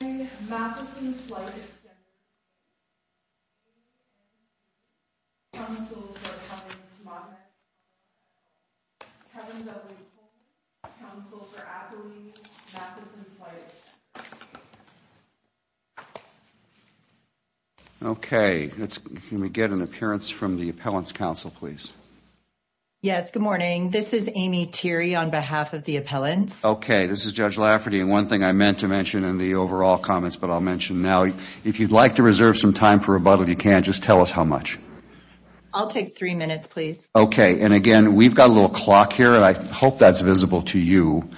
Kevin Dudley, Counsel for Appellees, Matheson Flight Extenders, Inc. Okay, can we get an appearance from the Appellants' Council, please? Yes, good morning. This is Amy Thiry on behalf of the Appellants. Okay, this is Judge Lafferty, and one thing I meant to mention in the overall comments, but I'll mention now. If you'd like to reserve some time for rebuttal, you can. Just tell us how much. I'll take three minutes, please. Okay, and again, we've got a little clock here, and I hope that's visible to you.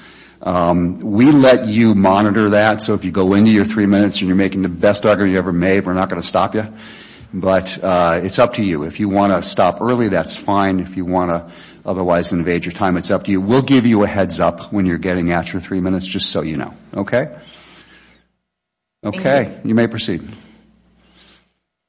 We let you monitor that, so if you go into your three minutes and you're making the best argument you ever made, we're not going to stop you, but it's up to you. If you want to stop early, that's fine. If you want to otherwise invade your time, it's up to you. We'll give you a heads-up when you're getting at your three minutes, just so you know, okay? Okay, you may proceed.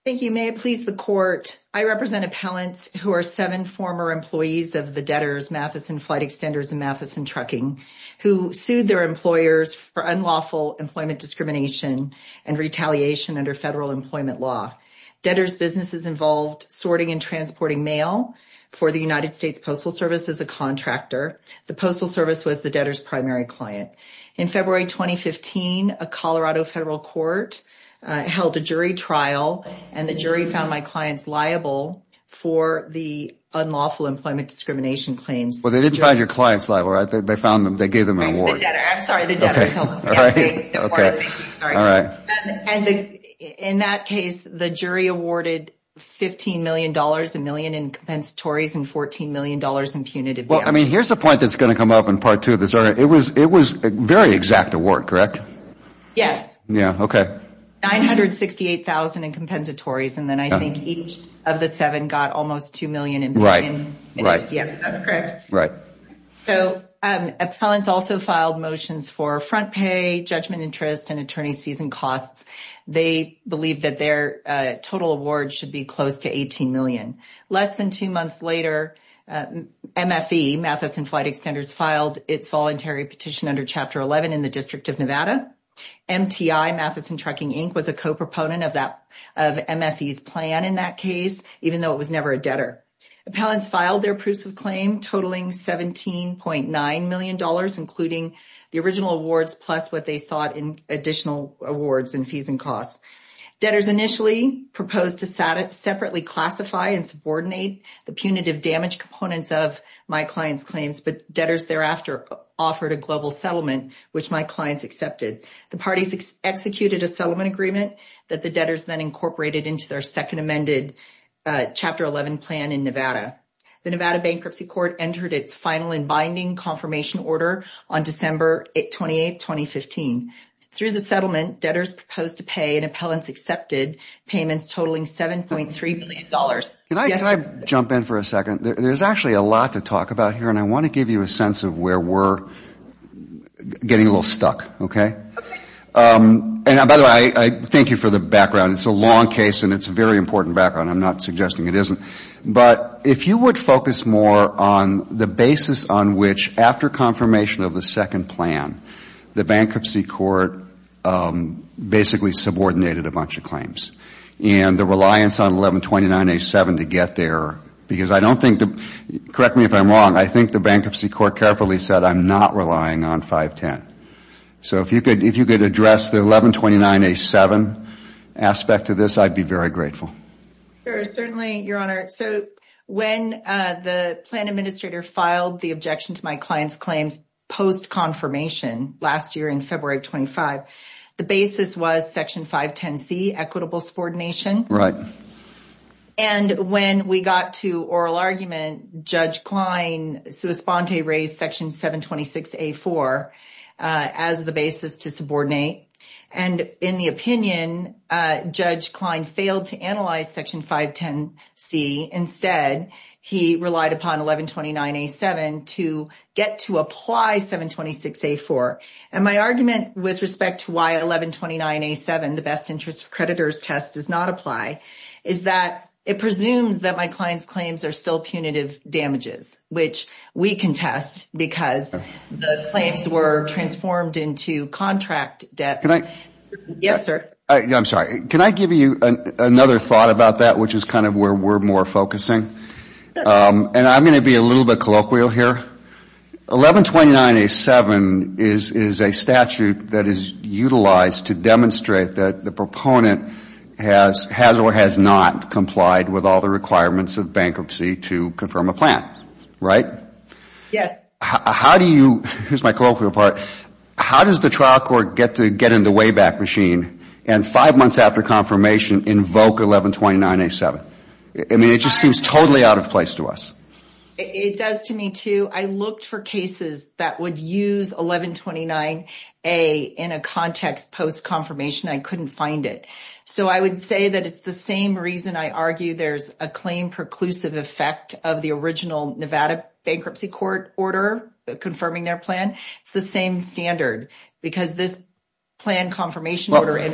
Thank you. May it please the Court, I represent appellants who are seven former employees of the debtors, Matheson Flight Extenders and Matheson Trucking, who sued their employers for unlawful employment discrimination and retaliation under federal employment law. Debtors' businesses involved sorting and transporting mail for the United States Postal Service as a contractor. The Postal Service was the debtor's primary client. In February 2015, a Colorado federal court held a jury trial, and the jury found my clients liable for the unlawful employment discrimination claims. Well, they didn't find your clients liable, right? They found them. They gave them an award. I'm sorry, the debtors held them. And in that case, the jury awarded $15 million, a million in compensatories, and $14 million in punitive bail. Well, I mean, here's a point that's going to come up in Part 2 of this. It was a very exact award, correct? Yes. Yeah, okay. $968,000 in compensatories, and then I think each of the seven got almost $2 million. Right, right. Yes, that's correct. Right. So, appellants also filed motions for front pay, judgment interest, and attorney's fees and costs. They believe that their total award should be close to $18 million. Less than two months later, MFE, Matheson Flight Extenders, filed its voluntary petition under Chapter 11 in the District of Nevada. MTI, Matheson Trucking, Inc., was a co-proponent of MFE's plan in that case, even though it was never a debtor. Appellants filed their proofs of claim, totaling $17.9 million, including the original awards, plus what they sought in additional awards and fees and costs. Debtors initially proposed to separately classify and subordinate the punitive damage components of my client's claims, but debtors thereafter offered a global settlement, which my clients accepted. The parties executed a settlement agreement that the debtors then incorporated into their second amended Chapter 11 plan in Nevada. The Nevada Bankruptcy Court entered its final and binding confirmation order on December 28, 2015. Through the settlement, debtors proposed to pay and appellants accepted payments totaling $7.3 million. Can I jump in for a second? There's actually a lot to talk about here, and I want to give you a sense of where we're getting a little stuck. Okay. And, by the way, thank you for the background. It's a long case, and it's a very important background. I'm not suggesting it isn't. But if you would focus more on the basis on which, after confirmation of the second plan, the Bankruptcy Court basically subordinated a bunch of claims, and the reliance on 1129A7 to get there, because I don't think the — correct me if I'm wrong — I think the Bankruptcy Court carefully said, I'm not relying on 510. So if you could address the 1129A7 aspect of this, I'd be very grateful. Sure. Certainly, Your Honor. So when the plan administrator filed the objection to my client's claims post-confirmation last year in February of 25, the basis was Section 510C, equitable subordination. Right. And when we got to oral argument, Judge Klein, sua sponte, raised Section 726A4 as the basis to subordinate. And in the opinion, Judge Klein failed to analyze Section 510C. Instead, he relied upon 1129A7 to get to apply 726A4. And my argument with respect to why 1129A7, the best interest creditor's test, does not apply, is that it presumes that my client's claims are still punitive damages, which we can test because the claims were transformed into contract debts. Yes, sir. I'm sorry. Can I give you another thought about that, which is kind of where we're more focusing? And I'm going to be a little bit colloquial here. 1129A7 is a statute that is utilized to demonstrate that the proponent has or has not complied with all the requirements of bankruptcy to confirm a plan, right? Yes. How do you, here's my colloquial part, how does the trial court get in the way back machine and five months after confirmation invoke 1129A7? I mean, it just seems totally out of place to us. It does to me, too. I looked for cases that would use 1129A in a context post-confirmation. I couldn't find it. So I would say that it's the same reason I argue there's a claim preclusive effect of the original Nevada bankruptcy court order confirming their plan. It's the same standard because this plan confirmation order. I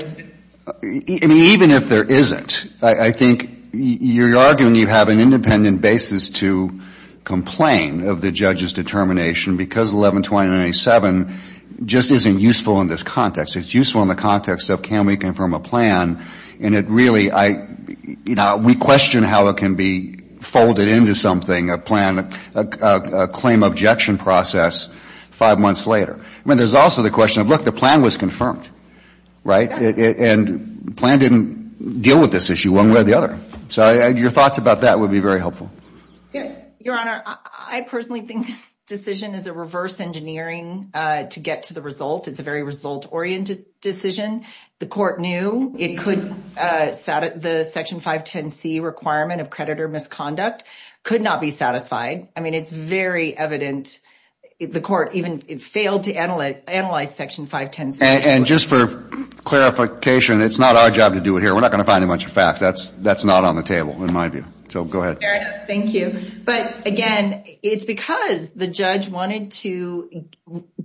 mean, even if there isn't, I think you're arguing you have an independent basis to complain of the judge's determination because 1129A7 just isn't useful in this context. It's useful in the context of can we confirm a plan? And it really, I, you know, we question how it can be folded into something, a plan, a claim objection process, five months later. I mean, there's also the question of, look, the plan was confirmed, right? And the plan didn't deal with this issue one way or the other. So your thoughts about that would be very helpful. Your Honor, I personally think this decision is a reverse engineering to get to the result. It's a very result-oriented decision. The court knew it could, the Section 510C requirement of creditor misconduct could not be satisfied. I mean, it's very evident. The court even failed to analyze Section 510C. And just for clarification, it's not our job to do it here. We're not going to find a bunch of facts. That's not on the table in my view. So go ahead. Thank you. But, again, it's because the judge wanted to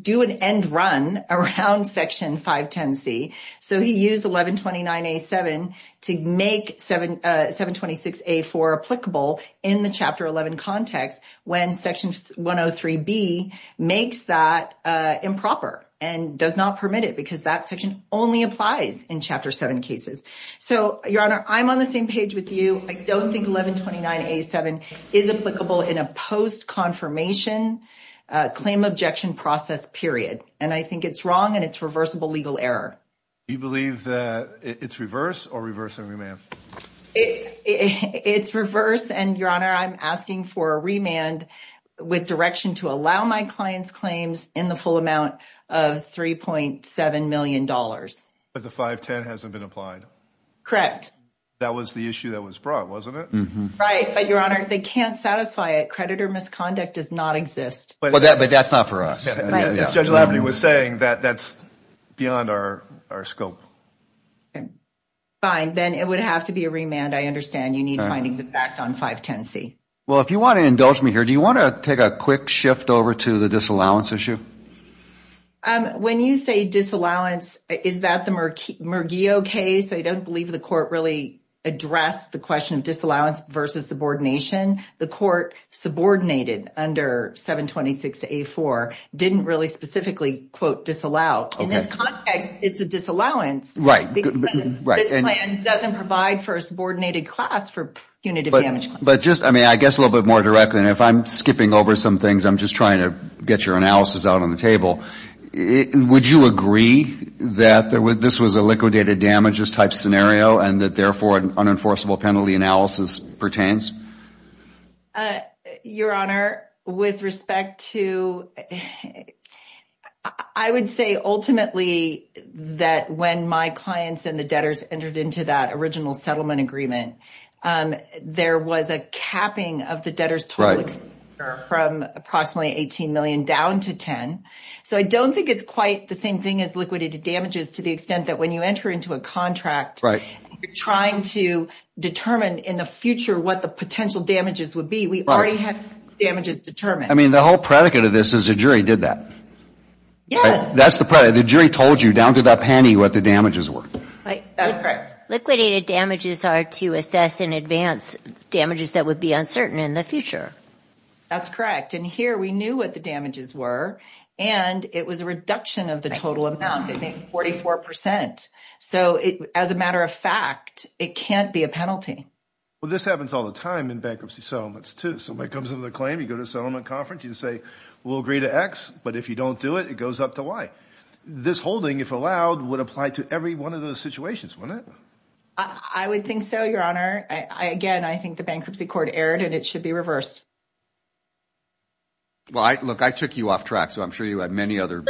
do an end run around Section 510C. So he used 1129A7 to make 726A4 applicable in the Chapter 11 context when Section 103B makes that improper and does not permit it because that section only applies in Chapter 7 cases. So, Your Honor, I'm on the same page with you. I don't think 1129A7 is applicable in a post-confirmation claim objection process period. And I think it's wrong and it's reversible legal error. Do you believe that it's reverse or reverse and remand? It's reverse. And, Your Honor, I'm asking for a remand with direction to allow my client's claims in the full amount of $3.7 million. But the 510 hasn't been applied? Correct. That was the issue that was brought, wasn't it? Right. But, Your Honor, they can't satisfy it. Creditor misconduct does not exist. But that's not for us. Judge Laverty was saying that that's beyond our scope. Okay. Fine. Then it would have to be a remand. I understand you need findings of fact on 510C. Well, if you want to indulge me here, do you want to take a quick shift over to the disallowance issue? When you say disallowance, is that the Murgio case? I don't believe the court really addressed the question of disallowance versus subordination. The court subordinated under 726A4, didn't really specifically, quote, disallow. In this context, it's a disallowance. Right. This plan doesn't provide for a subordinated class for punitive damage claims. I guess a little bit more directly, and if I'm skipping over some things, I'm just trying to get your analysis out on the table. Would you agree that this was a liquidated damages type scenario and that, therefore, an unenforceable penalty analysis pertains? Your Honor, with respect to – I would say ultimately that when my clients and the debtors entered into that original settlement agreement, there was a capping of the debtors' total expenditure from approximately 18 million down to 10. So I don't think it's quite the same thing as liquidated damages to the extent that when you enter into a contract, you're trying to determine in the future what the potential damages would be. We already have damages determined. I mean, the whole predicate of this is the jury did that. Yes. That's the – the jury told you down to the penny what the damages were. That's correct. Liquidated damages are to assess in advance damages that would be uncertain in the future. That's correct. And here we knew what the damages were, and it was a reduction of the total amount, I think 44 percent. So as a matter of fact, it can't be a penalty. Well, this happens all the time in bankruptcy settlements too. Somebody comes in with a claim. You go to a settlement conference. You say we'll agree to X, but if you don't do it, it goes up to Y. This holding, if allowed, would apply to every one of those situations, wouldn't it? I would think so, Your Honor. Again, I think the bankruptcy court erred, and it should be reversed. Well, look, I took you off track, so I'm sure you had many other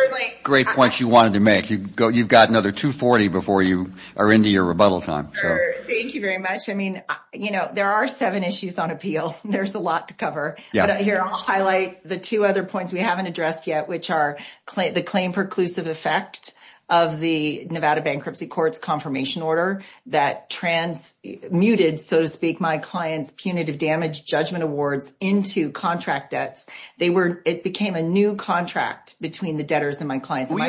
great points you wanted to make. You've got another 240 before you are into your rebuttal time. Thank you very much. I mean, you know, there are seven issues on appeal. There's a lot to cover. But here I'll highlight the two other points we haven't addressed yet, which are the claim preclusive effect of the Nevada Bankruptcy Court's confirmation order that transmuted, so to speak, my client's punitive damage judgment awards into contract debts. It became a new contract between the debtors and my clients. We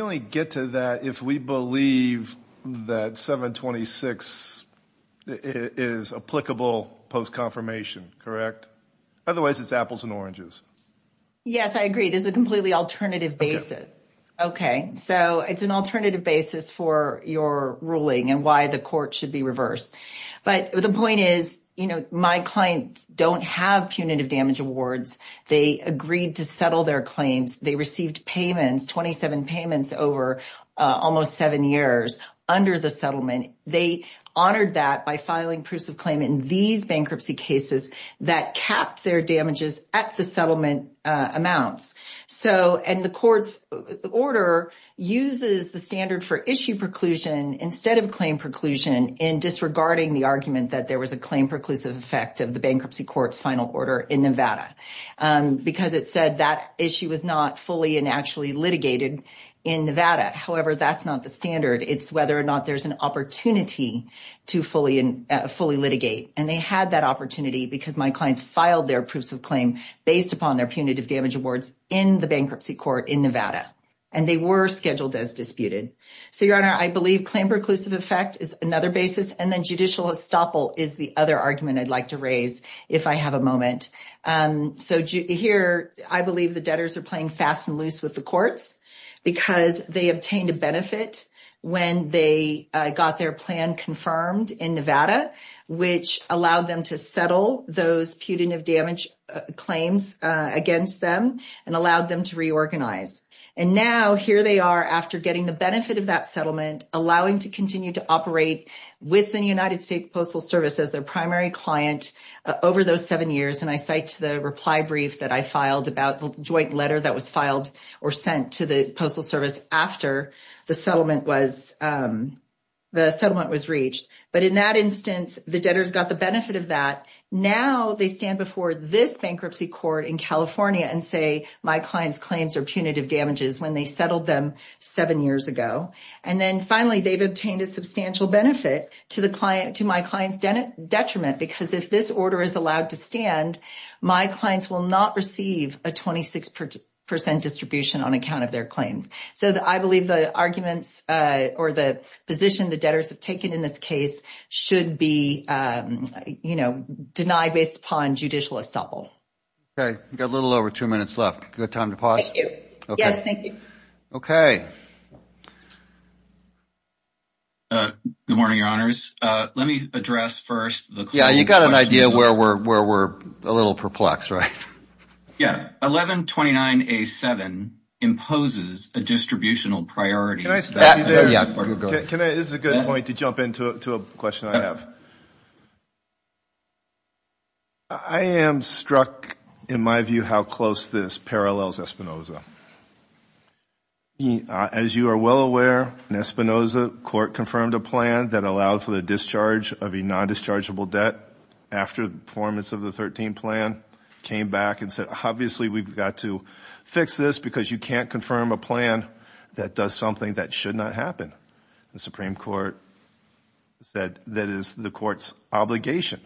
only get to that if we believe that 726 is applicable post-confirmation, correct? Otherwise, it's apples and oranges. Yes, I agree. This is a completely alternative basis. Okay. So it's an alternative basis for your ruling and why the court should be reversed. But the point is, you know, my clients don't have punitive damage awards. They agreed to settle their claims. They received payments, 27 payments over almost seven years under the settlement. They honored that by filing proofs of claim in these bankruptcy cases that capped their damages at the settlement amounts. And the court's order uses the standard for issue preclusion instead of claim preclusion in disregarding the argument that there was a claim preclusive effect of the bankruptcy court's final order in Nevada because it said that issue was not fully and actually litigated in Nevada. However, that's not the standard. It's whether or not there's an opportunity to fully litigate. And they had that opportunity because my clients filed their proofs of claim based upon their punitive damage awards in the bankruptcy court in Nevada, and they were scheduled as disputed. So, Your Honor, I believe claim preclusive effect is another basis, and then judicial estoppel is the other argument I'd like to raise if I have a moment. So here, I believe the debtors are playing fast and loose with the courts because they obtained a benefit when they got their plan confirmed in Nevada, which allowed them to settle those punitive damage claims against them and allowed them to reorganize. And now here they are after getting the benefit of that settlement, allowing to continue to operate with the United States Postal Service as their primary client over those seven years. And I cite to the reply brief that I filed about the joint letter that was filed or sent to the Postal Service after the settlement was reached. But in that instance, the debtors got the benefit of that. Now they stand before this bankruptcy court in California and say, my client's claims are punitive damages when they settled them seven years ago. And then finally, they've obtained a substantial benefit to my client's detriment because if this order is allowed to stand, my clients will not receive a 26 percent distribution on account of their claims. So I believe the arguments or the position the debtors have taken in this case should be, you know, denied based upon judicial estoppel. Okay. We've got a little over two minutes left. Do we have time to pause? Thank you. Yes, thank you. Okay. Good morning, Your Honors. Let me address first the question. Yeah, you've got an idea where we're a little perplexed, right? Yeah. 1129A7 imposes a distributional priority. Can I stop you there? Yeah, go ahead. This is a good point to jump into a question I have. I am struck, in my view, how close this parallels Espinoza. As you are well aware, in Espinoza, court confirmed a plan that allowed for the discharge of a nondischargeable debt after the performance of the 13 plan came back and said, obviously we've got to fix this because you can't confirm a plan that does something that should not happen. The Supreme Court said that is the court's obligation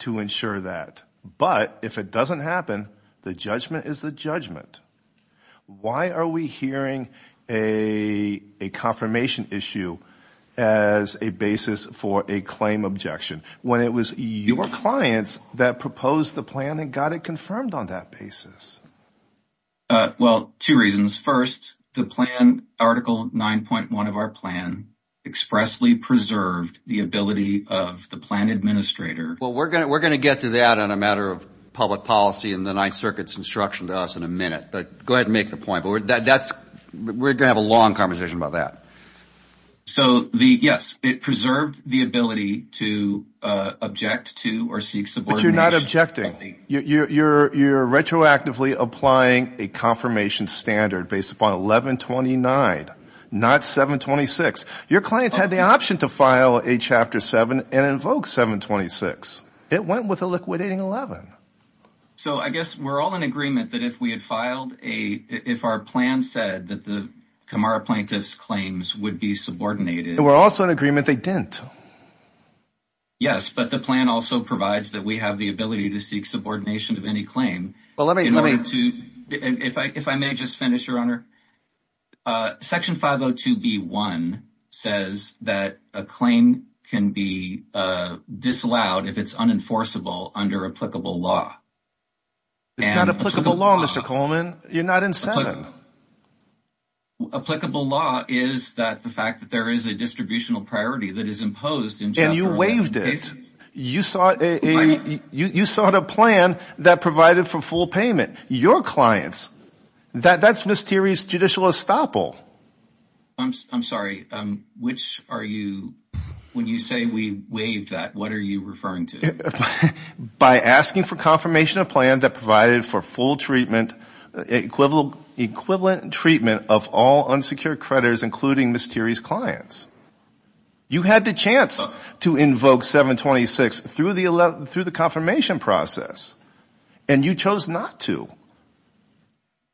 to ensure that. But if it doesn't happen, the judgment is the judgment. Why are we hearing a confirmation issue as a basis for a claim objection when it was your clients that proposed the plan and got it confirmed on that basis? Well, two reasons. First, the plan, Article 9.1 of our plan, expressly preserved the ability of the plan administrator. Well, we're going to get to that on a matter of public policy in the Ninth Circuit's instruction to us in a minute. But go ahead and make the point. We're going to have a long conversation about that. So, yes, it preserved the ability to object to or seek subordination. But you're not objecting. You're retroactively applying a confirmation standard based upon 1129, not 726. Your clients had the option to file a Chapter 7 and invoke 726. It went with a liquidating 11. So I guess we're all in agreement that if we had filed a – if our plan said that the Camara plaintiff's claims would be subordinated. We're also in agreement they didn't. Yes, but the plan also provides that we have the ability to seek subordination of any claim. Well, let me – If I may just finish, Your Honor. Section 502B1 says that a claim can be disallowed if it's unenforceable under applicable law. It's not applicable law, Mr. Coleman. You're not in Senate. Applicable law is that the fact that there is a distributional priority that is imposed in Chapter 11 cases. And you waived it. You sought a plan that provided for full payment. Your clients, that's mysterious judicial estoppel. I'm sorry. Which are you – when you say we waived that, what are you referring to? By asking for confirmation of plan that provided for full treatment, equivalent treatment of all unsecured creditors, including mysterious clients. You had the chance to invoke 726 through the confirmation process. And you chose not to.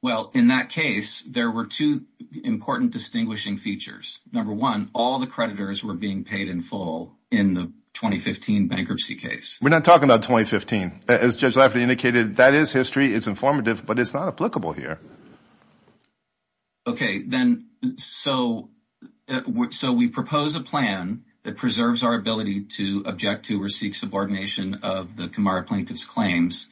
Well, in that case, there were two important distinguishing features. Number one, all the creditors were being paid in full in the 2015 bankruptcy case. We're not talking about 2015. As Judge Lafferty indicated, that is history. It's informative. But it's not applicable here. Okay. Then so we propose a plan that preserves our ability to object to or seek subordination of the Kamara plaintiff's claims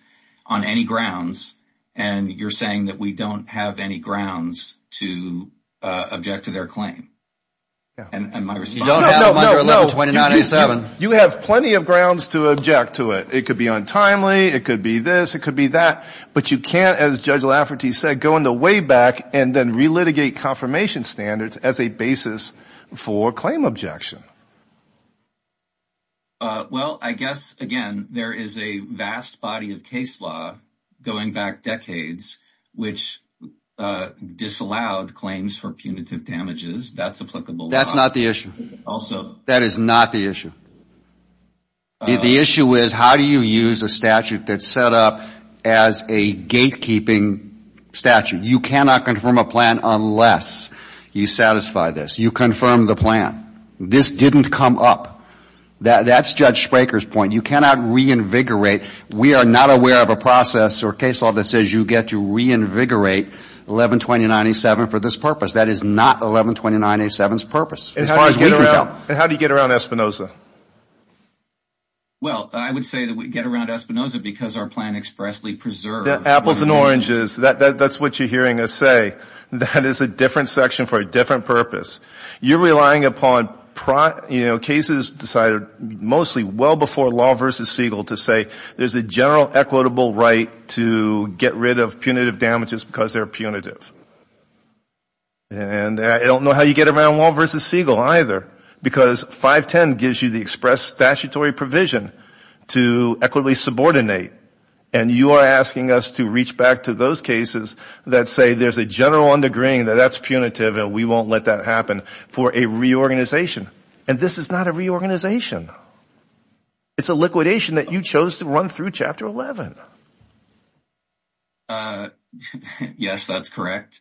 on any grounds. And you're saying that we don't have any grounds to object to their claim. And my response is – No, no, no. You have plenty of grounds to object to it. It could be untimely. It could be this. It could be that. But you can't, as Judge Lafferty said, go in the way back and then relitigate confirmation standards as a basis for claim objection. Well, I guess, again, there is a vast body of case law going back decades which disallowed claims for punitive damages. That's applicable. That's not the issue. Also – That is not the issue. The issue is how do you use a statute that's set up as a gatekeeping statute? You cannot confirm a plan unless you satisfy this. You confirm the plan. This didn't come up. That's Judge Spraker's point. You cannot reinvigorate. We are not aware of a process or case law that says you get to reinvigorate 11-29-87 for this purpose. That is not 11-29-87's purpose as far as we can tell. And how do you get around Espinoza? Well, I would say that we get around Espinoza because our plan expressly preserves – Apples and oranges. That's what you're hearing us say. That is a different section for a different purpose. You're relying upon cases decided mostly well before Law v. Siegel to say there's a general equitable right to get rid of punitive damages because they're punitive. And I don't know how you get around Law v. Siegel either because 510 gives you the express statutory provision to equitably subordinate. And you are asking us to reach back to those cases that say there's a general undergrinding that that's punitive and we won't let that happen for a reorganization. And this is not a reorganization. It's a liquidation that you chose to run through Chapter 11. Yes, that's correct.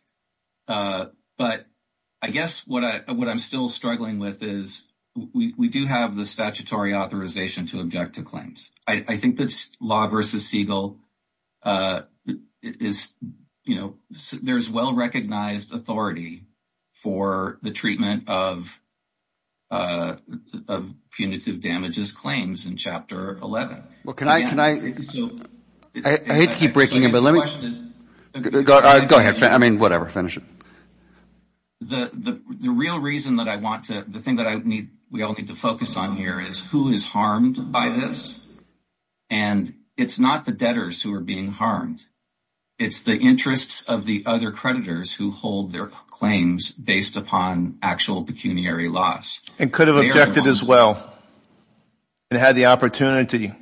But I guess what I'm still struggling with is we do have the statutory authorization to object to claims. I think that Law v. Siegel is – there's well-recognized authority for the treatment of punitive damages claims in Chapter 11. Well, can I – I hate to keep breaking it, but let me – go ahead. I mean whatever. Finish it. The real reason that I want to – the thing that I need – we all need to focus on here is who is harmed by this. And it's not the debtors who are being harmed. It's the interests of the other creditors who hold their claims based upon actual pecuniary loss. And could have objected as well and had the opportunity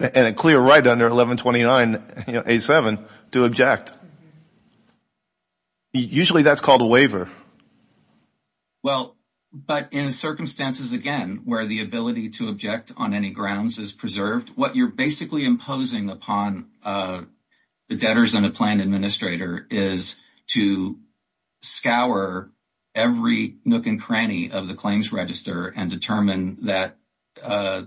and a clear right under 1129A7 to object. Usually that's called a waiver. Well, but in circumstances again where the ability to object on any grounds is preserved, what you're basically imposing upon the debtors and a plan administrator is to scour every nook and cranny of the claims register and determine that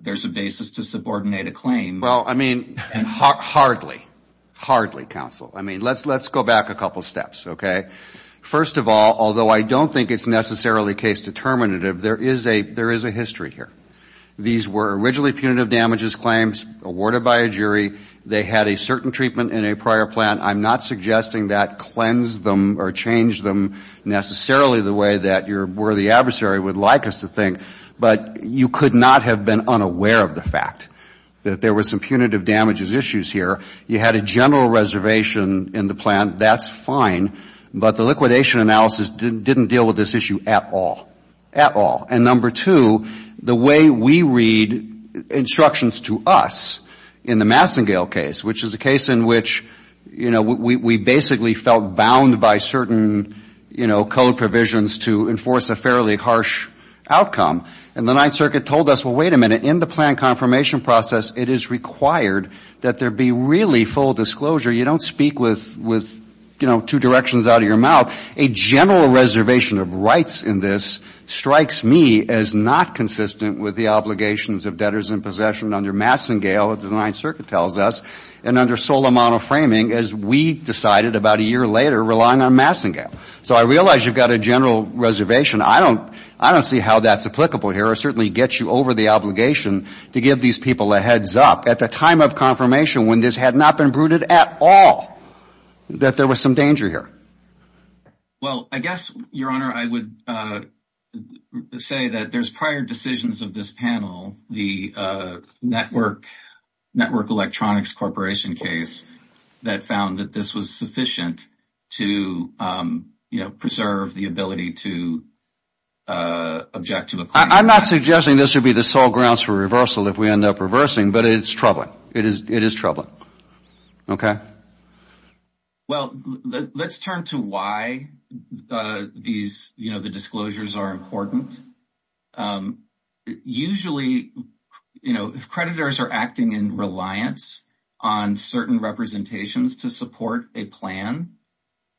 there's a basis to subordinate a claim. Well, I mean hardly, hardly, counsel. I mean let's go back a couple steps, okay. First of all, although I don't think it's necessarily case determinative, there is a history here. These were originally punitive damages claims awarded by a jury. They had a certain treatment in a prior plan. I'm not suggesting that cleansed them or changed them necessarily the way that your worthy adversary would like us to think. But you could not have been unaware of the fact that there were some punitive damages issues here. You had a general reservation in the plan. That's fine. But the liquidation analysis didn't deal with this issue at all. At all. And number two, the way we read instructions to us in the Massengale case, which is a case in which, you know, we basically felt bound by certain, you know, code provisions to enforce a fairly harsh outcome. And the Ninth Circuit told us, well, wait a minute. In the plan confirmation process, it is required that there be really full disclosure. You don't speak with, you know, two directions out of your mouth. A general reservation of rights in this strikes me as not consistent with the obligations of debtors in possession under Massengale, as the Ninth Circuit tells us, and under Solamano framing as we decided about a year later relying on Massengale. So I realize you've got a general reservation. I don't see how that's applicable here. It certainly gets you over the obligation to give these people a heads up at the time of confirmation when this had not been brooded at all that there was some danger here. Well, I guess, Your Honor, I would say that there's prior decisions of this panel, the Network Electronics Corporation case, that found that this was sufficient to, you know, preserve the ability to object to the claim. I'm not suggesting this would be the sole grounds for reversal if we end up reversing, but it's troubling. It is troubling. Okay. Well, let's turn to why these, you know, the disclosures are important. Usually, you know, if creditors are acting in reliance on certain representations to support a plan,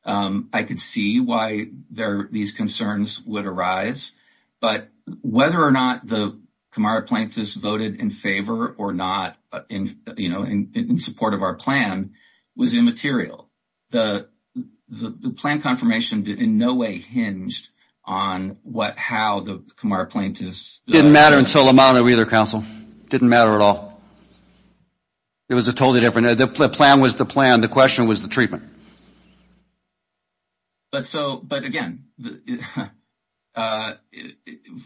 I could see why these concerns would arise. But whether or not the Camara plaintiffs voted in favor or not, you know, in support of our plan, was immaterial. The plan confirmation in no way hinged on how the Camara plaintiffs… It didn't matter in Solamano either, counsel. It didn't matter at all. It was totally different. The plan was the plan. The question was the treatment. But so, but again,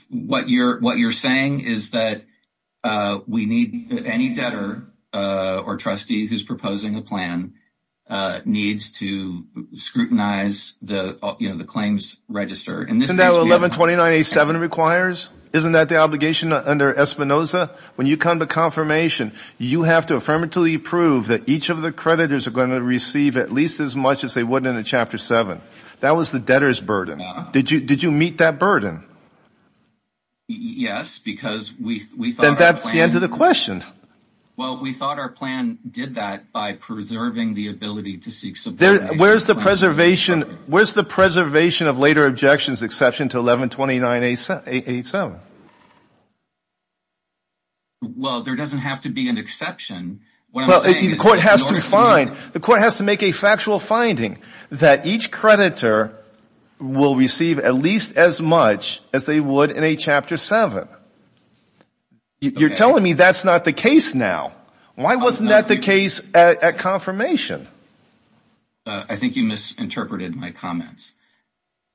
what you're saying is that we need any debtor or trustee who's proposing a plan needs to scrutinize the, you know, the claims register. Isn't that what 1129.87 requires? Isn't that the obligation under Espinoza? When you come to confirmation, you have to affirmatively prove that each of the creditors are going to receive at least as much as they would in a Chapter 7. That was the debtor's burden. Did you meet that burden? Yes, because we thought… Then that's the end of the question. Well, we thought our plan did that by preserving the ability to seek subordination. Where's the preservation of later objections exception to 1129.87? Well, there doesn't have to be an exception. Well, the court has to find, the court has to make a factual finding that each creditor will receive at least as much as they would in a Chapter 7. You're telling me that's not the case now. Why wasn't that the case at confirmation? I think you misinterpreted my comments.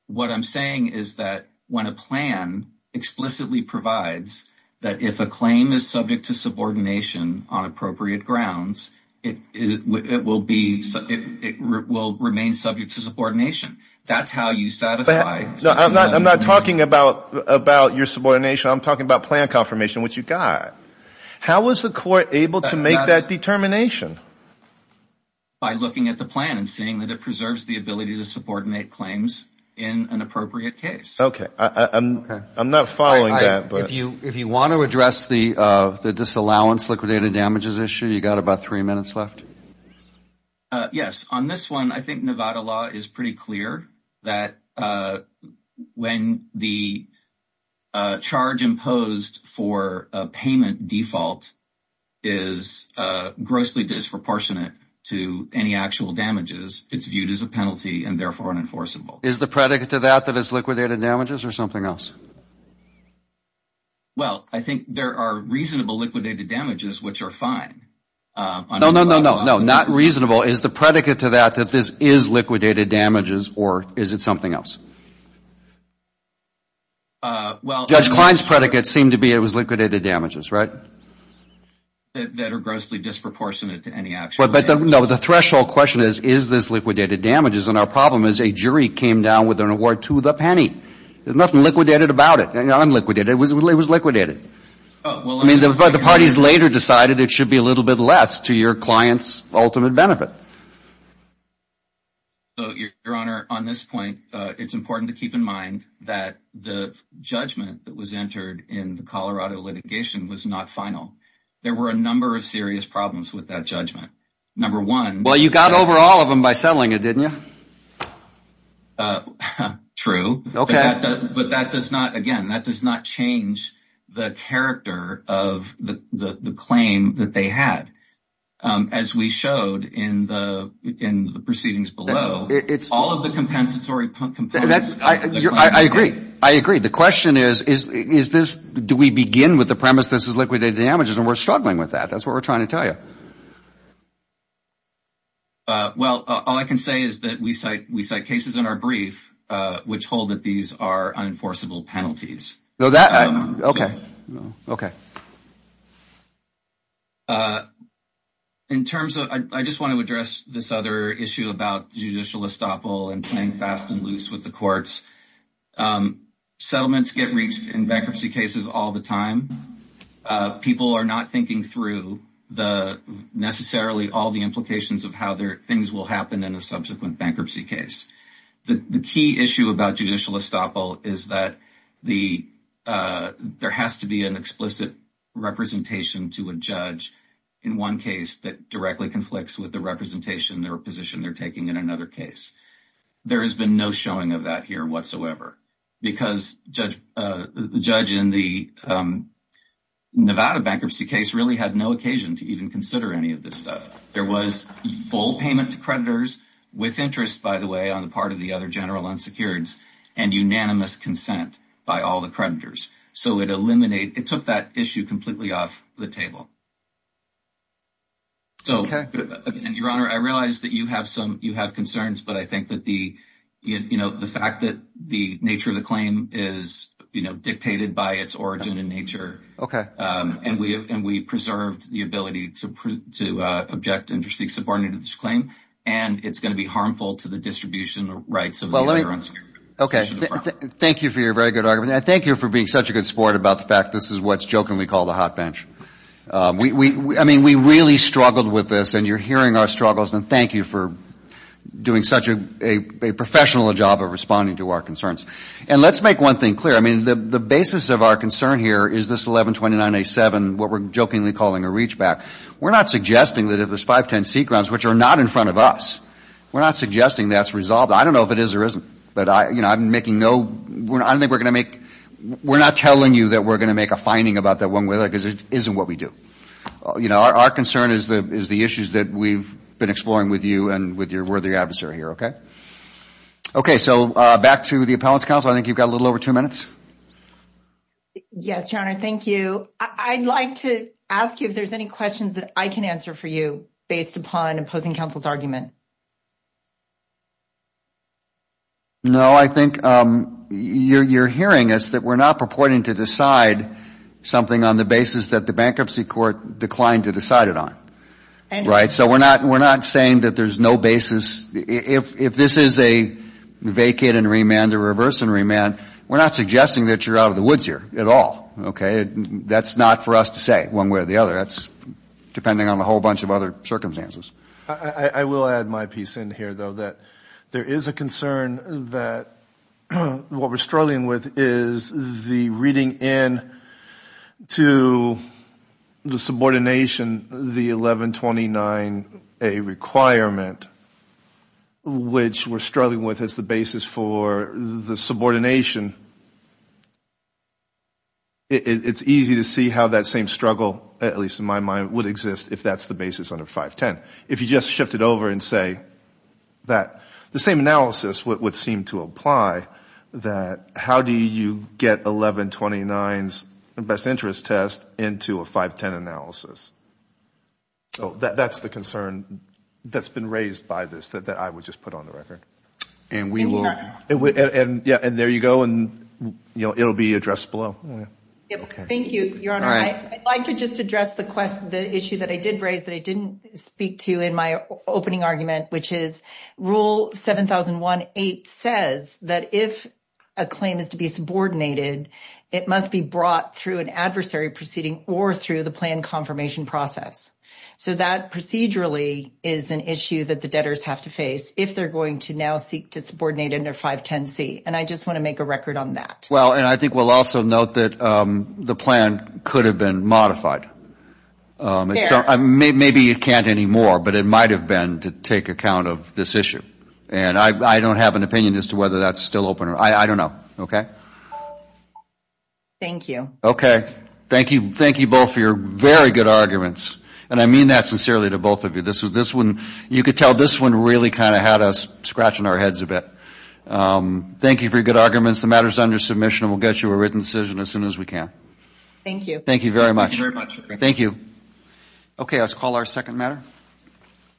What I'm saying is that when a plan explicitly provides that if a claim is subject to subordination on appropriate grounds, it will remain subject to subordination. That's how you satisfy… I'm not talking about your subordination. I'm talking about plan confirmation, which you got. How was the court able to make that determination? By looking at the plan and seeing that it preserves the ability to subordinate claims in an appropriate case. Okay. I'm not following that. If you want to address the disallowance liquidated damages issue, you got about three minutes left. Yes. On this one, I think Nevada law is pretty clear that when the charge imposed for a payment default is grossly disproportionate to any actual damages, it's viewed as a penalty and therefore unenforceable. Is the predicate to that that it's liquidated damages or something else? Well, I think there are reasonable liquidated damages, which are fine. No, no, no, no, not reasonable. Is the predicate to that that this is liquidated damages or is it something else? Judge Klein's predicate seemed to be it was liquidated damages, right? That are grossly disproportionate to any actual damages. No, the threshold question is, is this liquidated damages? And our problem is a jury came down with an award to the penny. There's nothing liquidated about it. It was liquidated. I mean, the parties later decided it should be a little bit less to your client's ultimate benefit. Your Honor, on this point, it's important to keep in mind that the judgment that was entered in the Colorado litigation was not final. There were a number of serious problems with that judgment. Number one. Well, you got over all of them by settling it, didn't you? True. Okay. But that does not, again, that does not change the character of the claim that they had. As we showed in the proceedings below, all of the compensatory components. I agree. I agree. The question is, is this, do we begin with the premise this is liquidated damages? And we're struggling with that. That's what we're trying to tell you. Well, all I can say is that we cite cases in our brief which hold that these are unenforceable penalties. Okay. Okay. In terms of, I just want to address this other issue about judicial estoppel and playing fast and loose with the courts. Settlements get reached in bankruptcy cases all the time. People are not thinking through necessarily all the implications of how things will happen in a subsequent bankruptcy case. The key issue about judicial estoppel is that there has to be an explicit representation to a judge in one case that directly conflicts with the representation or position they're taking in another case. There has been no showing of that here whatsoever. Because the judge in the Nevada bankruptcy case really had no occasion to even consider any of this stuff. There was full payment to creditors with interest, by the way, on the part of the other general unsecureds and unanimous consent by all the creditors. So it took that issue completely off the table. Okay. Your Honor, I realize that you have concerns, but I think that the fact that the nature of the claim is dictated by its origin and nature. And we preserved the ability to object and to seek subordination to this claim. And it's going to be harmful to the distribution of rights of the other unsecured. Okay. Thank you for your very good argument. And thank you for being such a good sport about the fact this is what's jokingly called a hot bench. I mean, we really struggled with this. And you're hearing our struggles. And thank you for doing such a professional job of responding to our concerns. And let's make one thing clear. I mean, the basis of our concern here is this 1129A7, what we're jokingly calling a reachback. We're not suggesting that if there's 510C grounds, which are not in front of us, we're not suggesting that's resolved. I don't know if it is or isn't. But, you know, I'm making no – I don't think we're going to make – we're not telling you that we're going to make a finding about that one. Because it isn't what we do. You know, our concern is the issues that we've been exploring with you and with your worthy adversary here. Okay? Okay. So back to the appellant's counsel. I think you've got a little over two minutes. Yes, Your Honor. Thank you. I'd like to ask you if there's any questions that I can answer for you based upon opposing counsel's argument. No, I think you're hearing us that we're not purporting to decide something on the basis that the bankruptcy court declined to decide it on. Right? So we're not saying that there's no basis. If this is a vacate and remand, a reverse and remand, we're not suggesting that you're out of the woods here at all. Okay? That's not for us to say one way or the other. That's depending on a whole bunch of other circumstances. I will add my piece in here, though, that there is a concern that what we're struggling with is the reading in to the subordination, the 1129A requirement, which we're struggling with as the basis for the subordination. It's easy to see how that same struggle, at least in my mind, would exist if that's the basis under 510. If you just shift it over and say that the same analysis would seem to apply, that how do you get 1129's best interest test into a 510 analysis? That's the concern that's been raised by this that I would just put on the record. And we will. And there you go. It will be addressed below. Thank you, Your Honor. I'd like to just address the issue that I did raise that I didn't speak to in my opening argument, which is Rule 7001.8 says that if a claim is to be subordinated, it must be brought through an adversary proceeding or through the plan confirmation process. So that procedurally is an issue that the debtors have to face if they're going to now seek to subordinate under 510C. And I just want to make a record on that. Well, and I think we'll also note that the plan could have been modified. Maybe it can't anymore, but it might have been to take account of this issue. And I don't have an opinion as to whether that's still open. I don't know. Okay? Thank you. Okay. Thank you both for your very good arguments. And I mean that sincerely to both of you. You could tell this one really kind of had us scratching our heads a bit. Thank you for your good arguments. The matter is under submission, and we'll get you a written decision as soon as we can. Thank you. Thank you very much. Thank you. Okay. Let's call our second matter.